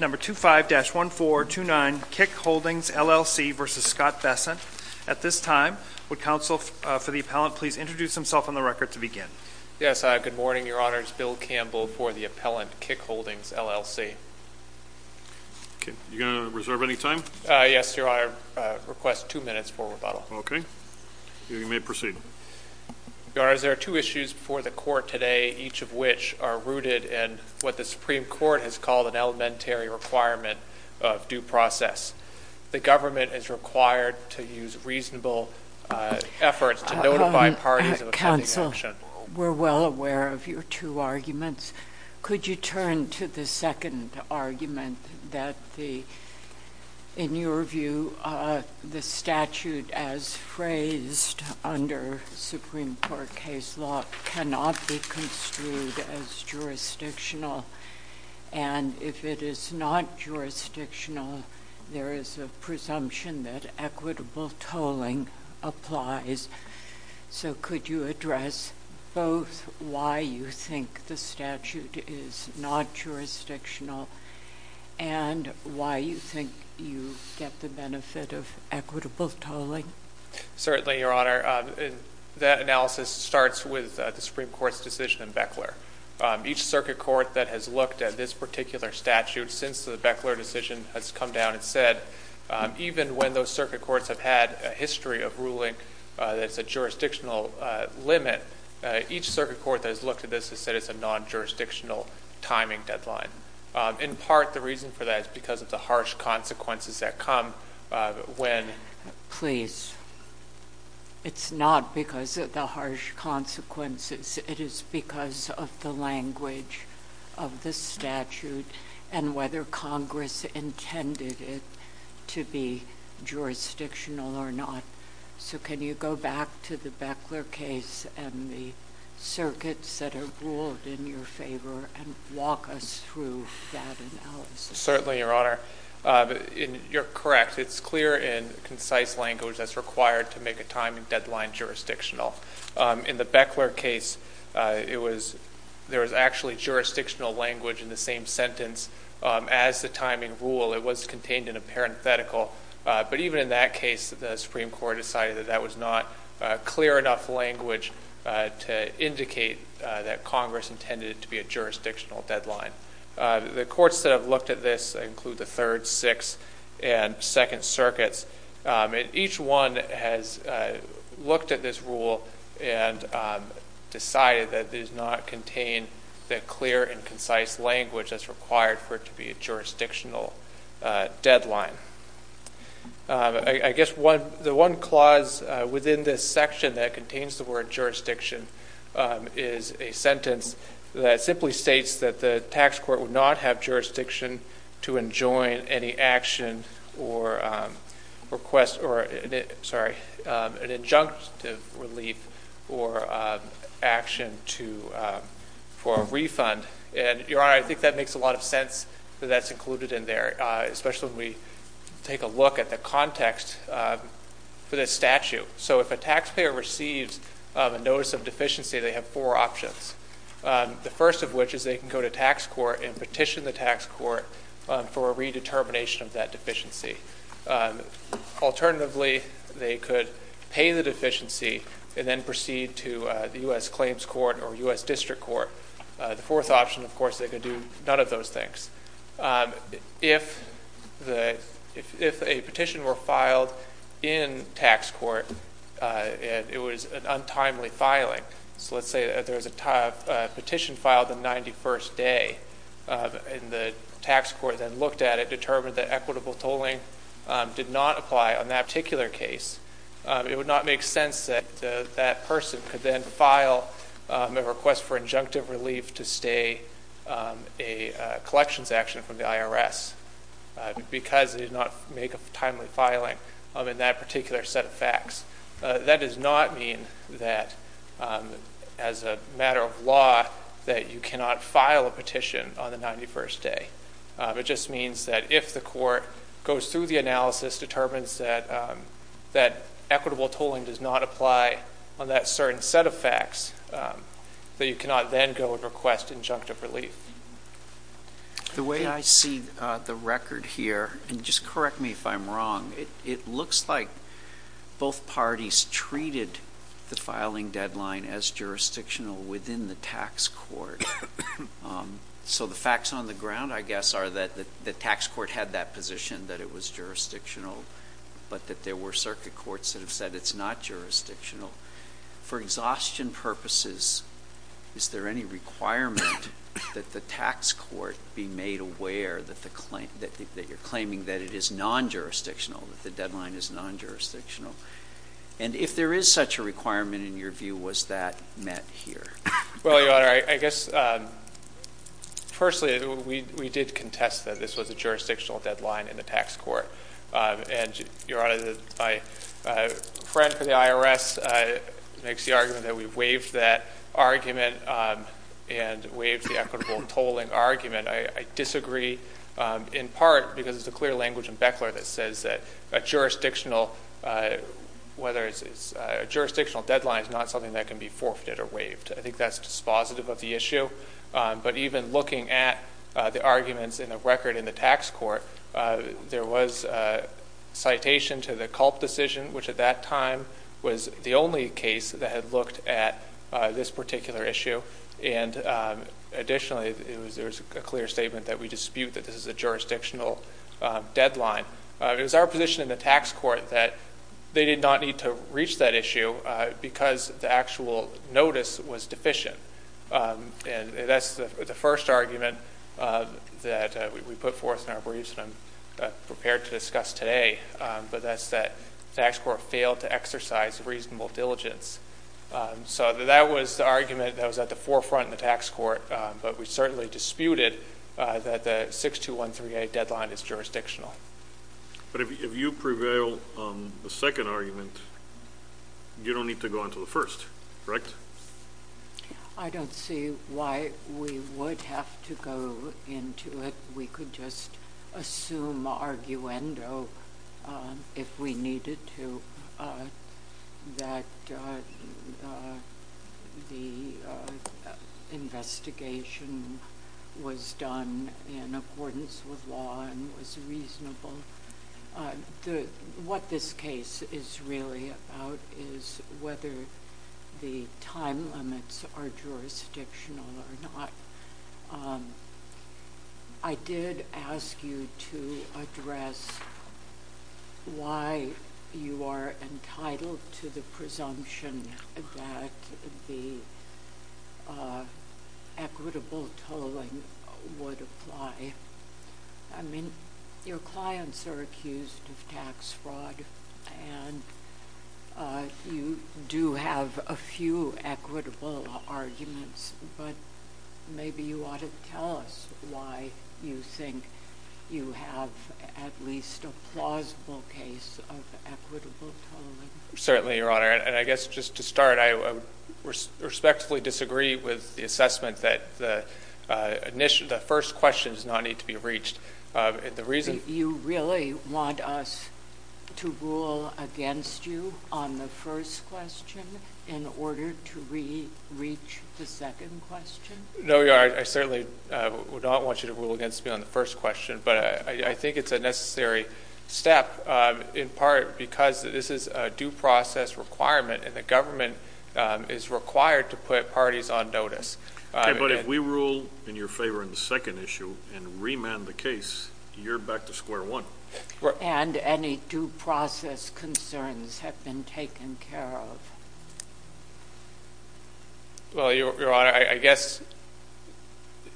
Number 25-1429 Kickholdings, LLC v. Scott Bessent At this time, would counsel for the appellant please introduce himself on the record to begin. Yes, good morning, your honor. It's Bill Campbell for the appellant, Kickholdings, LLC. Okay, you going to reserve any time? Yes, your honor. I request two minutes for rebuttal. Okay, you may proceed. Your honor, there are two issues before the court today, each of which are rooted in what the Supreme Court has called an elementary requirement of due process. The government is required to use reasonable efforts to notify parties of a pending action. Counsel, we're well aware of your two arguments. Could you turn to the second argument that, in your view, the statute as phrased under Supreme Court case law cannot be construed as jurisdictional? And if it is not jurisdictional, there is a presumption that equitable tolling applies. So could you address both why you think the statute is not jurisdictional and why you think you get the benefit of equitable tolling? Certainly, your honor. That analysis starts with the Supreme Court's decision in Beckler. Each circuit court that has looked at this particular statute since the Beckler decision has come down and said, even when those circuit courts have had a history of ruling that it's a jurisdictional limit, each circuit court that has looked at this has said it's a non-jurisdictional timing deadline. In part, the reason for that is because of the harsh consequences that come when please, it's not because of the harsh consequences. It is because of the language of the statute and whether Congress intended it to be jurisdictional or not. So can you go back to the Beckler case and the circuits that have ruled in your favor and walk us through that analysis? Certainly, your honor. You're correct. It's clear and concise language that's required to make a timing deadline jurisdictional. In the Beckler case, there was actually jurisdictional language in the same sentence as the timing rule. It was contained in a parenthetical. But even in that case, the Supreme Court decided that that was not clear enough language to indicate that Congress intended it to be a jurisdictional deadline. The courts that have looked at this include the Third, Sixth, and Second Circuits. Each one has looked at this rule and decided that it does not contain the clear and concise language that's required for it to be a jurisdictional deadline. I guess the one clause within this section that contains the word jurisdiction is a sentence that simply states that the tax court would not have jurisdiction to enjoin any injunctive relief or action for a refund. Your honor, I think that makes a lot of sense that that's included in there, especially when we take a look at the context for this statute. So if a taxpayer receives a notice of deficiency, they have four options. The first of which is they can go to tax court and petition the tax court for a redetermination of that deficiency. Alternatively, they could pay the deficiency and then proceed to the U.S. Claims Court or U.S. District Court. The fourth option, of course, they could do none of those things. If a petition were filed in tax court and it was an untimely filing, so let's say there was a petition filed the 91st day and the tax court then looked at it, determined that equitable tolling did not apply on that particular case, it would not make sense that that person could then file a request for injunctive relief to stay a collections action from the IRS because it did not make a timely filing in that particular set of facts. That does not mean that as a matter of law that you cannot file a petition on the 91st day. It just means that if the court goes through the analysis, determines that equitable tolling does not apply on that certain set of facts, that you cannot then go and request injunctive relief. The way I see the record here, and just correct me if I'm wrong, it looks like both parties treated the filing deadline as jurisdictional within the tax court. So the facts on the ground, I guess, are that the tax court had that position that it was jurisdictional, but that there were circuit courts that have said it's not jurisdictional. For exhaustion purposes, is there any requirement that the tax court be made aware that you're claiming that it is non-jurisdictional, that the deadline is non-jurisdictional? And if there is such a requirement in your view, was that met here? Well, Your Honor, I guess, firstly, we did contest that this was a jurisdictional deadline in the tax court. And, Your Honor, my friend from the IRS makes the argument that we waived that argument and waived the equitable tolling argument. I disagree in part because there's a clear language in Beckler that says that a jurisdictional deadline is not something that can be forfeited or waived. I think that's dispositive of the issue. But even looking at the arguments in the record in the tax court, there was a citation to the Culp decision, which at that time was the only case that had looked at this particular issue. And additionally, there was a clear statement that we dispute that this is a jurisdictional deadline. It was our position in the tax court that they did not need to reach that issue because the actual notice was deficient. And that's the first argument that we put forth in our briefs that I'm prepared to discuss today, but that's that the tax court failed to exercise reasonable diligence. So that was the argument that was at the forefront in the tax court, but we certainly disputed that the 62138 deadline is jurisdictional. But if you prevail on the second argument, you don't need to go on to the first, correct? I don't see why we would have to go into it. We could just assume arguendo if we needed to, that the investigation was done in accordance with law and was reasonable. What this case is really about is whether the time limits are jurisdictional or not. I did ask you to address why you are entitled to the presumption that the equitable tolling would apply. I mean, your clients are accused of tax fraud, and you do have a few equitable arguments, but maybe you ought to tell us why you think you have at least a plausible case of equitable tolling. Certainly, Your Honor. And I guess just to start, I respectfully disagree with the assessment that the first question does not need to be reached. You really want us to rule against you on the first question in order to reach the second question? No, Your Honor. I certainly would not want you to rule against me on the first question, but I think it's a necessary step in part because this is a due process requirement, and the government is required to put parties on notice. Okay, but if we rule in your favor on the second issue and remand the case, you're back to square one. And any due process concerns have been taken care of. Well, Your Honor, I guess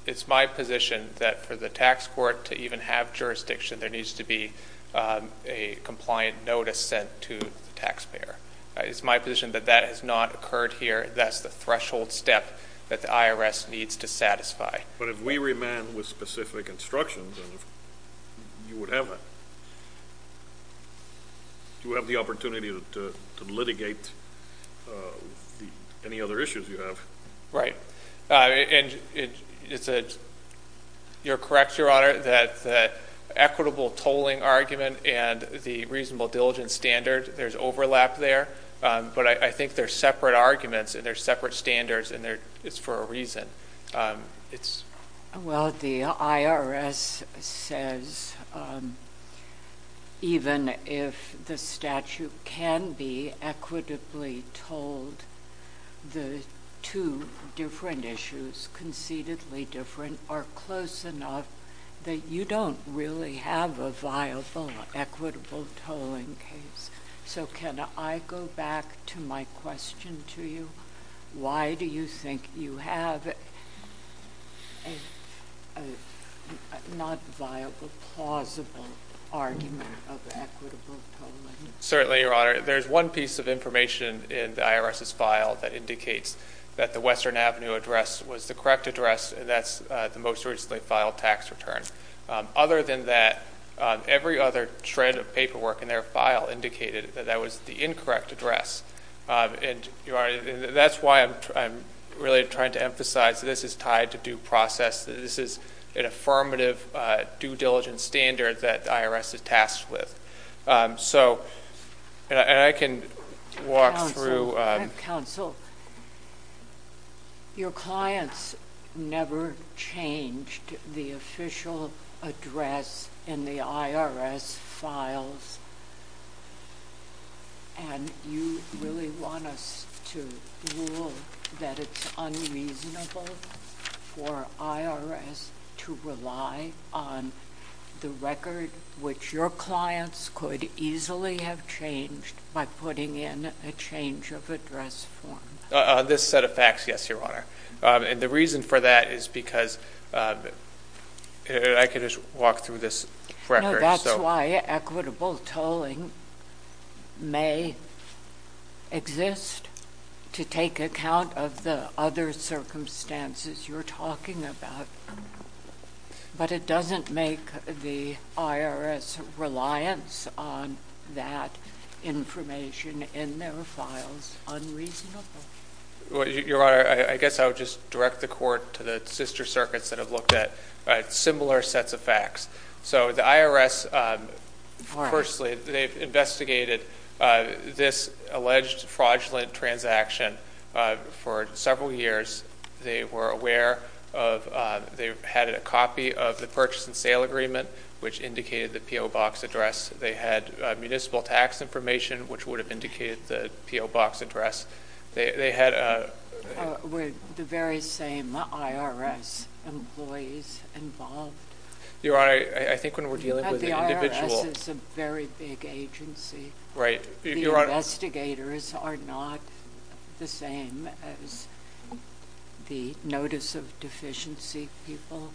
it's my position that for the tax court to even have jurisdiction, there needs to be a compliant notice sent to the taxpayer. It's my position that that has not occurred here. That's the threshold step that the IRS needs to satisfy. But if we remand with specific instructions, you would have the opportunity to litigate any other issues you have. Right. And you're correct, Your Honor, that the equitable tolling argument and the reasonable diligence standard, there's overlap there, but I think they're separate arguments and they're separate standards, and it's for a reason. Well, the IRS says even if the statute can be equitably tolled, the two different issues, concededly different, are close enough that you don't really have a viable, equitable tolling case. So can I go back to my question to you? Why do you think you have a not viable, plausible argument of equitable tolling? Certainly, Your Honor. There's one piece of information in the IRS's file that indicates that the Western Avenue address was the correct address, and that's the most recently filed tax return. Other than that, every other shred of paperwork in their file indicated that that was the incorrect address. And, Your Honor, that's why I'm really trying to emphasize that this is tied to due process, that this is an affirmative due diligence standard that the IRS is tasked with. And I can walk through. Counsel, your clients never changed the official address in the IRS files, and you really want us to rule that it's unreasonable for IRS to rely on the record, which your clients could easily have changed by putting in a change of address form. On this set of facts, yes, Your Honor. And the reason for that is because I could just walk through this record. No, that's why equitable tolling may exist to take account of the other circumstances you're talking about. But it doesn't make the IRS reliance on that information in their files unreasonable. Your Honor, I guess I would just direct the Court to the sister circuits that have looked at similar sets of facts. So the IRS, firstly, they've investigated this alleged fraudulent transaction for several years. They were aware of they had a copy of the purchase and sale agreement, which indicated the P.O. Box address. They had municipal tax information, which would have indicated the P.O. Box address. Were the very same IRS employees involved? Your Honor, I think when we're dealing with individual – The IRS is a very big agency. Right. The investigators are not the same as the notice of deficiency people.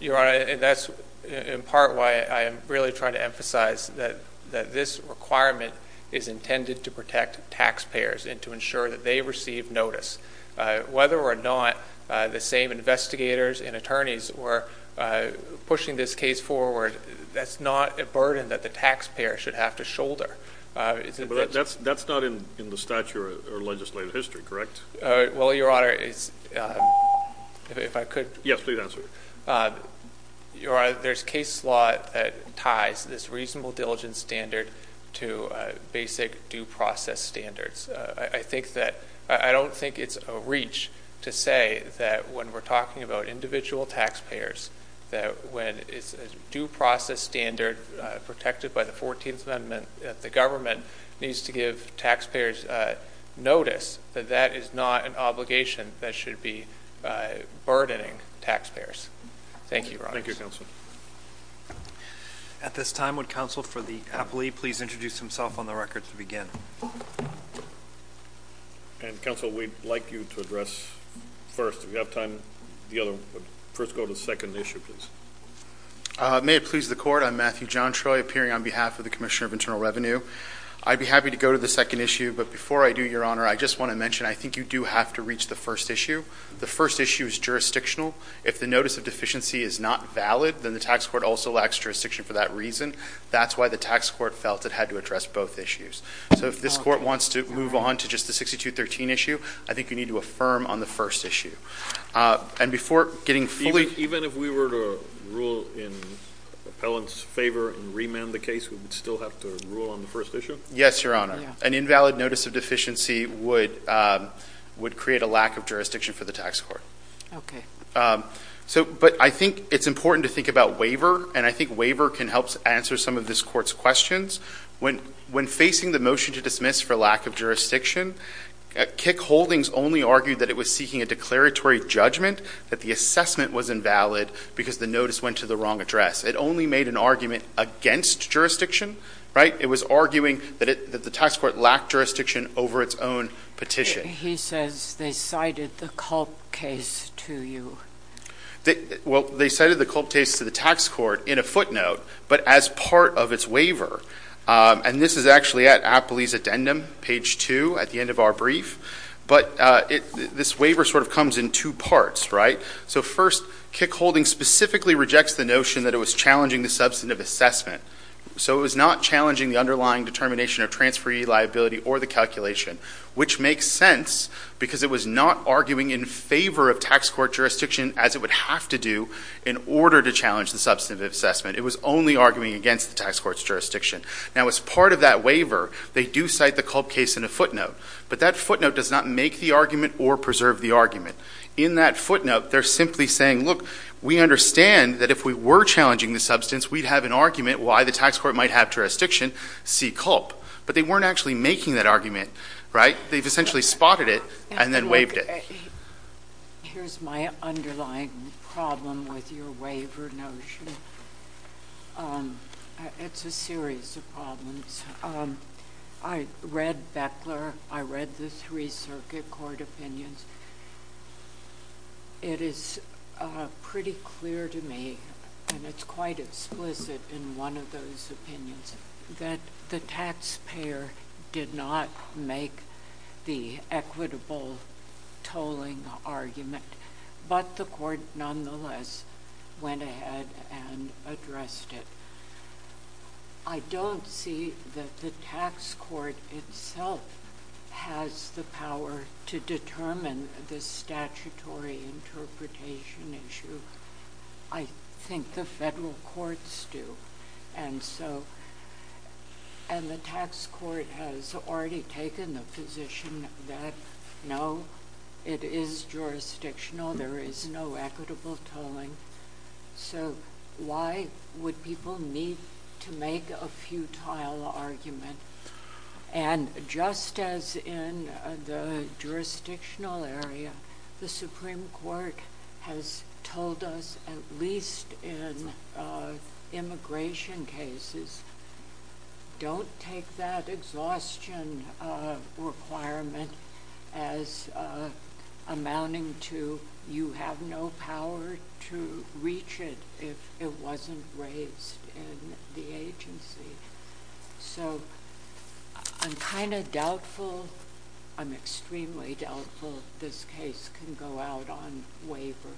Your Honor, that's in part why I am really trying to emphasize that this requirement is intended to protect taxpayers and to ensure that they receive notice. Whether or not the same investigators and attorneys were pushing this case forward, that's not a burden that the taxpayer should have to shoulder. But that's not in the statute or legislative history, correct? Well, Your Honor, if I could. Yes, please answer. Your Honor, there's case law that ties this reasonable diligence standard to basic due process standards. I don't think it's a reach to say that when we're talking about individual taxpayers, that when it's a due process standard protected by the 14th Amendment, that the government needs to give taxpayers notice that that is not an obligation that should be burdening taxpayers. Thank you, Your Honor. Thank you, counsel. At this time, would counsel for the appellee please introduce himself on the record to begin? And, counsel, we'd like you to address first. If you have time, the other – first go to the second issue, please. May it please the Court. I'm Matthew Jontroy, appearing on behalf of the Commissioner of Internal Revenue. I'd be happy to go to the second issue, but before I do, Your Honor, I just want to mention I think you do have to reach the first issue. The first issue is jurisdictional. If the notice of deficiency is not valid, then the tax court also lacks jurisdiction for that reason. That's why the tax court felt it had to address both issues. So if this court wants to move on to just the 6213 issue, I think you need to affirm on the first issue. And before getting fully – Even if we were to rule in appellant's favor and remand the case, we would still have to rule on the first issue? Yes, Your Honor. An invalid notice of deficiency would create a lack of jurisdiction for the tax court. Okay. So – but I think it's important to think about waiver, and I think waiver can help answer some of this court's questions. When facing the motion to dismiss for lack of jurisdiction, Kick Holdings only argued that it was seeking a declaratory judgment, that the assessment was invalid because the notice went to the wrong address. It only made an argument against jurisdiction, right? It was arguing that the tax court lacked jurisdiction over its own petition. He says they cited the Culp case to you. Well, they cited the Culp case to the tax court in a footnote, but as part of its waiver. And this is actually at appellee's addendum, page 2 at the end of our brief. But this waiver sort of comes in two parts, right? So first, Kick Holdings specifically rejects the notion that it was challenging the substantive assessment. So it was not challenging the underlying determination of transferee liability or the calculation, which makes sense because it was not arguing in favor of tax court jurisdiction as it would have to do in order to challenge the substantive assessment. It was only arguing against the tax court's jurisdiction. Now, as part of that waiver, they do cite the Culp case in a footnote, but that footnote does not make the argument or preserve the argument. In that footnote, they're simply saying, look, we understand that if we were challenging the substance, we'd have an argument why the tax court might have jurisdiction, see Culp. But they weren't actually making that argument, right? They've essentially spotted it and then waived it. Here's my underlying problem with your waiver notion. It's a series of problems. I read Beckler. I read the three circuit court opinions. It is pretty clear to me, and it's quite explicit in one of those opinions, that the taxpayer did not make the equitable tolling argument, but the court nonetheless went ahead and addressed it. I don't see that the tax court itself has the power to determine the statutory interpretation issue. I think the federal courts do. And the tax court has already taken the position that, no, it is jurisdictional. There is no equitable tolling. So why would people need to make a futile argument? And just as in the jurisdictional area, the Supreme Court has told us, at least in immigration cases, don't take that exhaustion requirement as amounting to you have no power to reach it if it wasn't raised in the agency. So I'm kind of doubtful. I'm extremely doubtful this case can go out on waiver.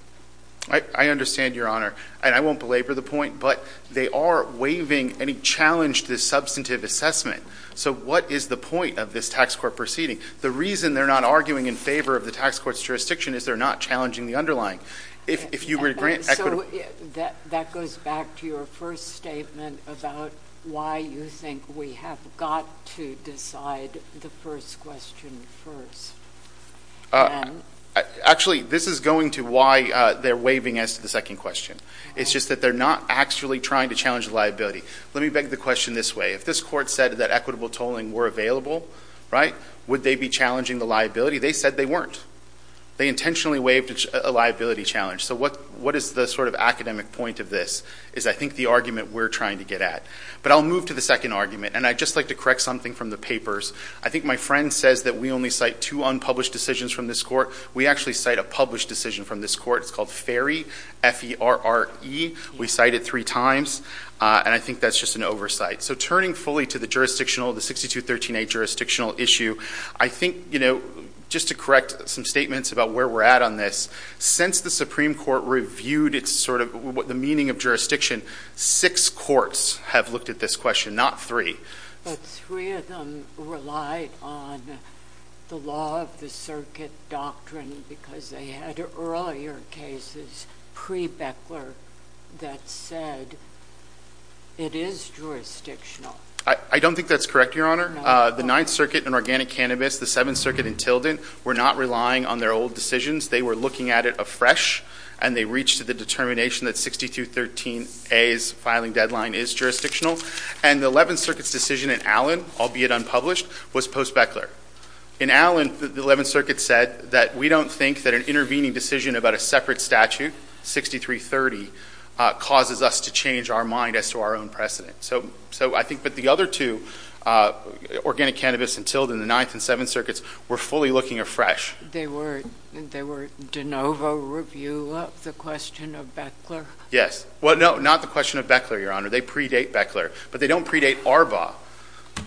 I understand, Your Honor. And I won't belabor the point, but they are waiving any challenge to the substantive assessment. So what is the point of this tax court proceeding? The reason they're not arguing in favor of the tax court's jurisdiction is they're not challenging the underlying. So that goes back to your first statement about why you think we have got to decide the first question first. Actually, this is going to why they're waiving us the second question. It's just that they're not actually trying to challenge the liability. Let me beg the question this way. If this court said that equitable tolling were available, right, would they be challenging the liability? They said they weren't. They intentionally waived a liability challenge. So what is the sort of academic point of this is I think the argument we're trying to get at. But I'll move to the second argument, and I'd just like to correct something from the papers. I think my friend says that we only cite two unpublished decisions from this court. We actually cite a published decision from this court. It's called FERRE, F-E-R-R-E. We cite it three times, and I think that's just an oversight. So turning fully to the jurisdictional, the 6213A jurisdictional issue, I think just to correct some statements about where we're at on this, since the Supreme Court reviewed the meaning of jurisdiction, six courts have looked at this question, not three. But three of them relied on the law of the circuit doctrine because they had earlier cases pre-Beckler that said it is jurisdictional. I don't think that's correct, Your Honor. The Ninth Circuit in Organic Cannabis, the Seventh Circuit in Tilden, were not relying on their old decisions. They were looking at it afresh, and they reached the determination that 6213A's filing deadline is jurisdictional. And the Eleventh Circuit's decision in Allen, albeit unpublished, was post-Beckler. In Allen, the Eleventh Circuit said that we don't think that an intervening decision about a separate statute, 6330, causes us to change our mind as to our own precedent. But the other two, Organic Cannabis and Tilden, the Ninth and Seventh Circuits, were fully looking afresh. They were de novo review of the question of Beckler? Yes. Well, no, not the question of Beckler, Your Honor. They predate Beckler, but they don't predate Arbaugh.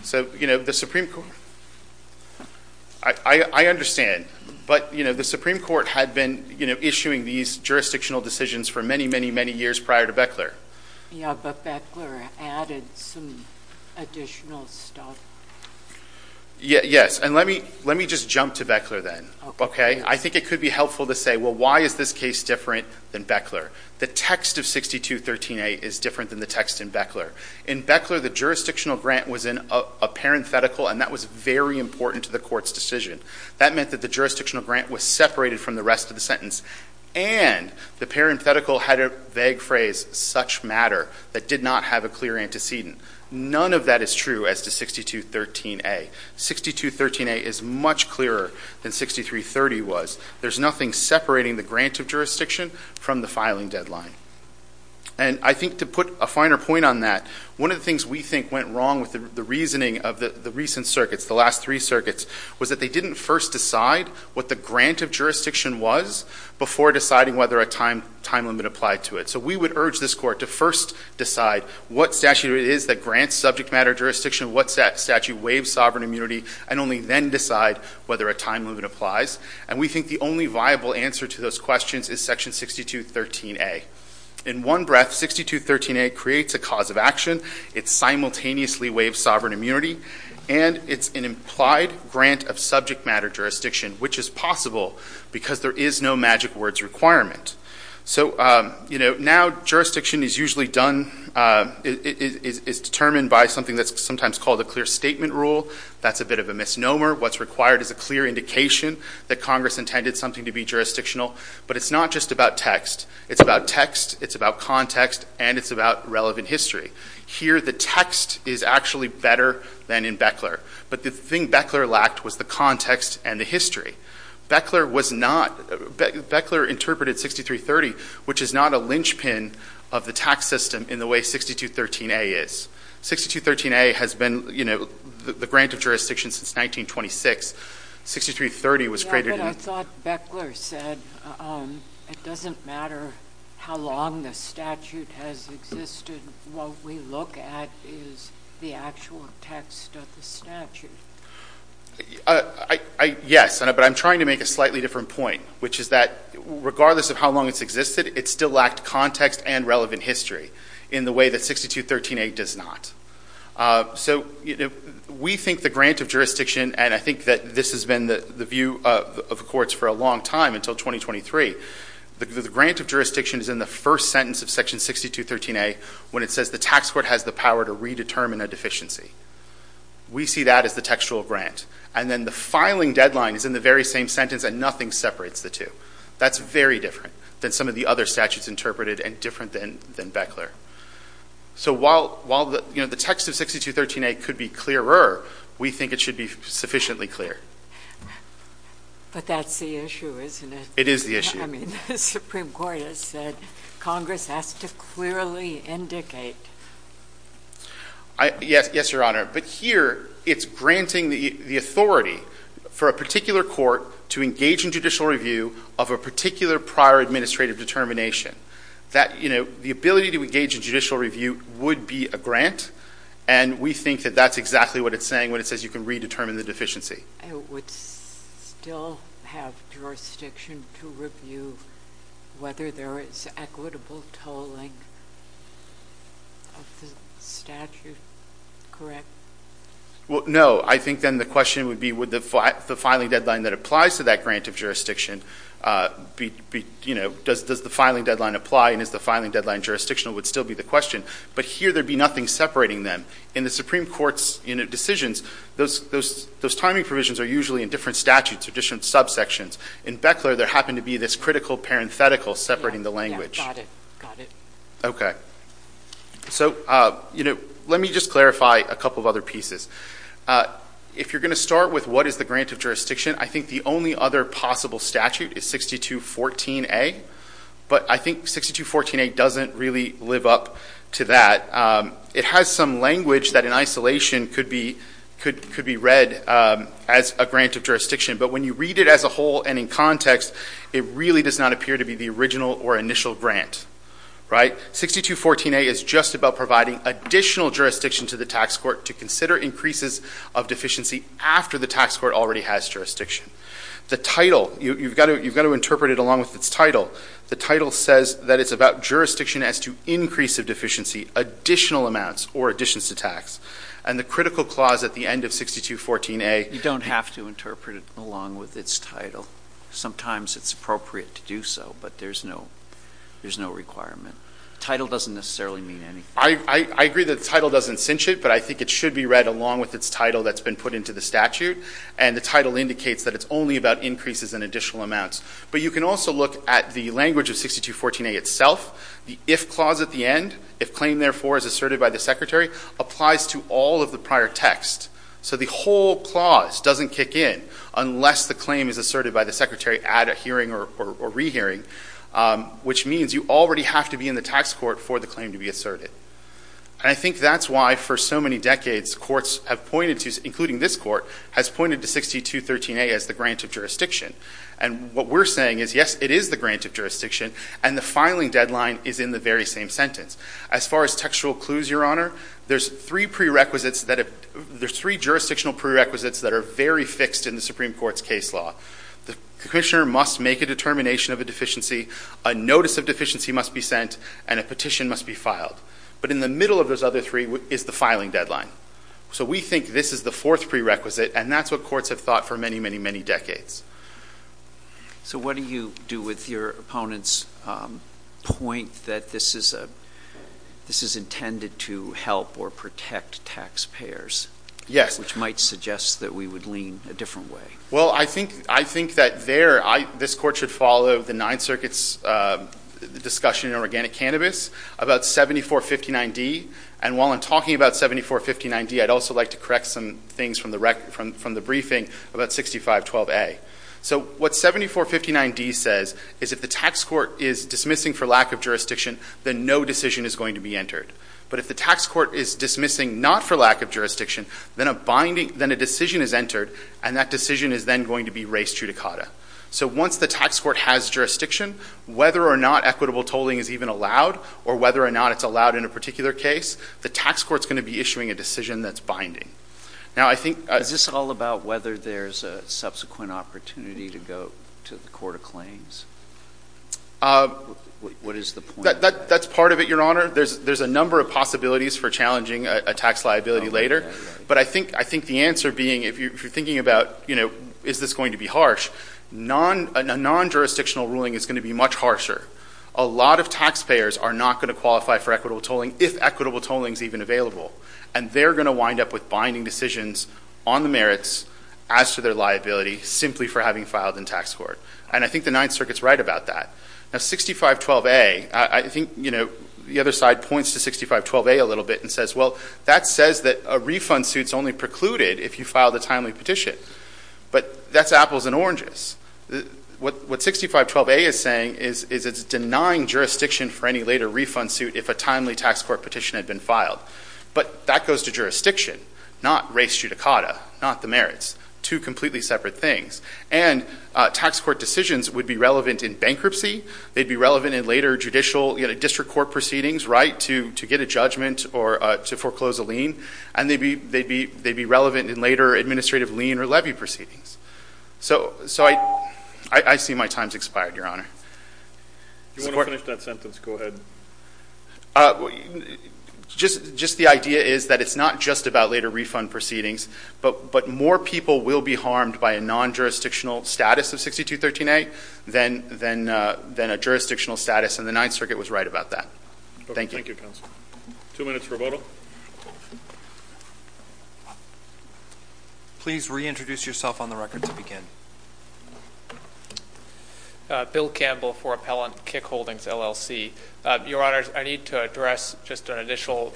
So, you know, the Supreme Court. I understand. But, you know, the Supreme Court had been issuing these jurisdictional decisions for many, many, many years prior to Beckler. Yeah, but Beckler added some additional stuff. Yes. And let me just jump to Beckler then. Okay. I think it could be helpful to say, well, why is this case different than Beckler? The text of 6213A is different than the text in Beckler. In Beckler, the jurisdictional grant was in a parenthetical, and that was very important to the Court's decision. That meant that the jurisdictional grant was separated from the rest of the sentence. And the parenthetical had a vague phrase, such matter, that did not have a clear antecedent. None of that is true as to 6213A. 6213A is much clearer than 6330 was. There's nothing separating the grant of jurisdiction from the filing deadline. And I think to put a finer point on that, one of the things we think went wrong with the reasoning of the recent circuits, the last three circuits, was that they didn't first decide what the grant of jurisdiction was, before deciding whether a time limit applied to it. So we would urge this Court to first decide what statute it is that grants subject matter jurisdiction, what statute waives sovereign immunity, and only then decide whether a time limit applies. And we think the only viable answer to those questions is section 6213A. In one breath, 6213A creates a cause of action. It simultaneously waives sovereign immunity, and it's an implied grant of subject matter jurisdiction, which is possible because there is no magic words requirement. So, you know, now jurisdiction is usually done, is determined by something that's sometimes called a clear statement rule. That's a bit of a misnomer. What's required is a clear indication that Congress intended something to be jurisdictional. But it's not just about text. It's about text, it's about context, and it's about relevant history. Here, the text is actually better than in Beckler. But the thing Beckler lacked was the context and the history. Beckler was not — Beckler interpreted 6330, which is not a linchpin of the tax system in the way 6213A is. 6213A has been, you know, the grant of jurisdiction since 1926. 6330 was created in — Yeah, but I thought Beckler said it doesn't matter how long the statute has existed. What we look at is the actual text of the statute. Yes, but I'm trying to make a slightly different point, which is that regardless of how long it's existed, it still lacked context and relevant history in the way that 6213A does not. So we think the grant of jurisdiction, and I think that this has been the view of the courts for a long time, until 2023, the grant of jurisdiction is in the first sentence of section 6213A when it says the tax court has the power to redetermine a deficiency. We see that as the textual grant. And then the filing deadline is in the very same sentence, and nothing separates the two. That's very different than some of the other statutes interpreted and different than Beckler. So while, you know, the text of 6213A could be clearer, we think it should be sufficiently clear. But that's the issue, isn't it? It is the issue. I mean, the Supreme Court has said Congress has to clearly indicate. Yes, Your Honor. But here it's granting the authority for a particular court to engage in judicial review of a particular prior administrative determination. That, you know, the ability to engage in judicial review would be a grant, and we think that that's exactly what it's saying when it says you can redetermine the deficiency. It would still have jurisdiction to review whether there is equitable tolling of the statute, correct? Well, no. I think then the question would be would the filing deadline that applies to that grant of jurisdiction be, you know, does the filing deadline apply and is the filing deadline jurisdictional would still be the question. But here there would be nothing separating them. In the Supreme Court's, you know, decisions, those timing provisions are usually in different statutes, different subsections. In Beckler there happened to be this critical parenthetical separating the language. Yeah, got it, got it. Okay. So, you know, let me just clarify a couple of other pieces. If you're going to start with what is the grant of jurisdiction, I think the only other possible statute is 6214A, but I think 6214A doesn't really live up to that. It has some language that in isolation could be read as a grant of jurisdiction, but when you read it as a whole and in context, it really does not appear to be the original or initial grant, right? 6214A is just about providing additional jurisdiction to the tax court to consider increases of deficiency after the tax court already has jurisdiction. The title, you've got to interpret it along with its title. The title says that it's about jurisdiction as to increase of deficiency additional amounts or additions to tax, and the critical clause at the end of 6214A... You don't have to interpret it along with its title. Sometimes it's appropriate to do so, but there's no requirement. The title doesn't necessarily mean anything. I agree that the title doesn't cinch it, but I think it should be read along with its title that's been put into the statute, and the title indicates that it's only about increases and additional amounts. But you can also look at the language of 6214A itself, the if clause at the end, if claim therefore is asserted by the secretary, applies to all of the prior text. So the whole clause doesn't kick in unless the claim is asserted by the secretary at a hearing or rehearing, which means you already have to be in the tax court for the claim to be asserted. And I think that's why for so many decades courts have pointed to, including this court, has pointed to 6213A as the grant of jurisdiction. And what we're saying is, yes, it is the grant of jurisdiction, and the filing deadline is in the very same sentence. As far as textual clues, Your Honor, there's three jurisdictional prerequisites that are very fixed in the Supreme Court's case law. The commissioner must make a determination of a deficiency, a notice of deficiency must be sent, and a petition must be filed. But in the middle of those other three is the filing deadline. So we think this is the fourth prerequisite, and that's what courts have thought for many, many decades. So what do you do with your opponent's point that this is intended to help or protect taxpayers? Yes. Which might suggest that we would lean a different way. Well, I think that there, this court should follow the Ninth Circuit's discussion in organic cannabis about 7459D. And while I'm talking about 7459D, I'd also like to correct some things from the briefing about 6512A. So what 7459D says is if the tax court is dismissing for lack of jurisdiction, then no decision is going to be entered. But if the tax court is dismissing not for lack of jurisdiction, then a decision is entered, and that decision is then going to be raised judicata. So once the tax court has jurisdiction, whether or not equitable tolling is even allowed, or whether or not it's allowed in a particular case, the tax court's going to be issuing a decision that's binding. Now, I think... Is this all about whether there's a subsequent opportunity to go to the court of claims? Uh... What is the point? That's part of it, Your Honor. There's a number of possibilities for challenging a tax liability later. But I think the answer being, if you're thinking about, you know, is this going to be harsh, non-jurisdictional ruling is going to be much harsher. A lot of taxpayers are not going to qualify for equitable tolling if equitable tolling is even available. And they're going to wind up with binding decisions on the merits as to their liability simply for having filed in tax court. And I think the Ninth Circuit's right about that. Now, 6512A, I think, you know, the other side points to 6512A a little bit and says, well, that says that a refund suit's only precluded if you file the timely petition. But that's apples and oranges. What 6512A is saying is it's denying jurisdiction for any later refund suit if a timely tax court petition had been filed. But that goes to jurisdiction, not res judicata, not the merits, two completely separate things. And tax court decisions would be relevant in bankruptcy. They'd be relevant in later judicial, you know, district court proceedings, right, to get a judgment or to foreclose a lien. And they'd be relevant in later administrative lien or levy proceedings. So I see my time's expired, Your Honor. If you want to finish that sentence, go ahead. Just the idea is that it's not just about later refund proceedings, but more people will be harmed by a non-jurisdictional status of 6213A than a jurisdictional status, and the Ninth Circuit was right about that. Thank you. Thank you, counsel. Two minutes for a vote. Please reintroduce yourself on the record to begin. Bill Campbell for Appellant Kick Holdings, LLC. Your Honor, I need to address just an initial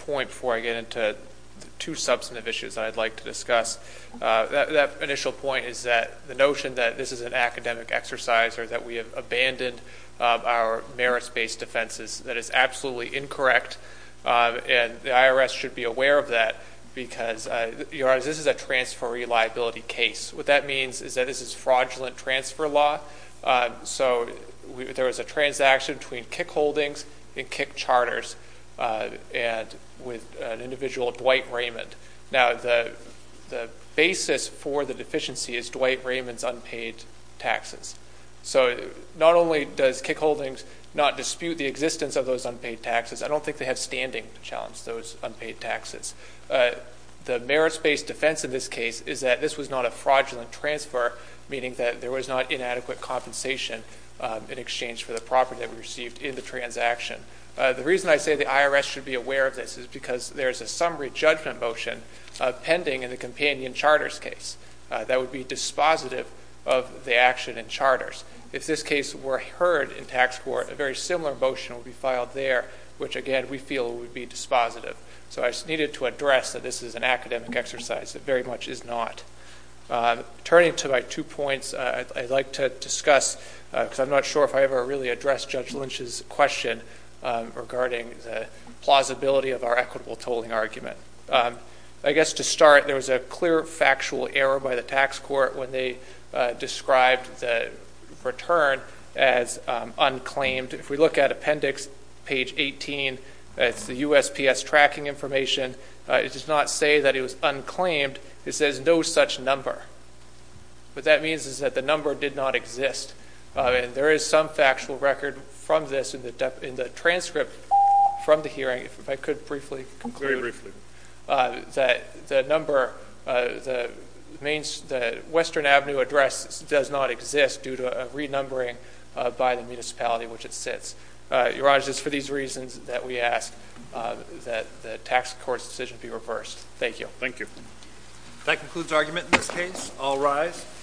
point before I get into the two substantive issues that I'd like to discuss. That initial point is that the notion that this is an academic exercise or that we have abandoned our merits-based defenses, that is absolutely incorrect, and the IRS should be aware of that because, Your Honor, this is a transferee liability case. What that means is that this is fraudulent transfer law. So there was a transaction between Kick Holdings and Kick Charters with an individual, Dwight Raymond. Now, the basis for the deficiency is Dwight Raymond's unpaid taxes. So not only does Kick Holdings not dispute the existence of those unpaid taxes, I don't think they have standing to challenge those unpaid taxes. The merits-based defense in this case is that this was not a fraudulent transfer, meaning that there was not inadequate compensation in exchange for the property that we received in the transaction. The reason I say the IRS should be aware of this is because there's a summary judgment motion pending in the companion charters case that would be dispositive of the action in charters. If this case were heard in tax court, a very similar motion would be filed there, which, again, we feel would be dispositive. So I just needed to address that this is an academic exercise. It very much is not. Turning to my two points, I'd like to discuss, because I'm not sure if I ever really addressed Judge Lynch's question regarding the plausibility of our equitable tolling argument. I guess to start, there was a clear factual error by the tax court when they described the return as unclaimed. If we look at appendix page 18, it's the USPS tracking information. It does not say that it was unclaimed. It says no such number. What that means is that the number did not exist, and there is some factual record from this in the transcript from the hearing, if I could briefly conclude. That the number, the Western Avenue address does not exist due to a renumbering by the municipality in which it sits. Your Honor, it's for these reasons that we ask that the tax court's decision be reversed. Thank you. That concludes argument in this case. I'll rise.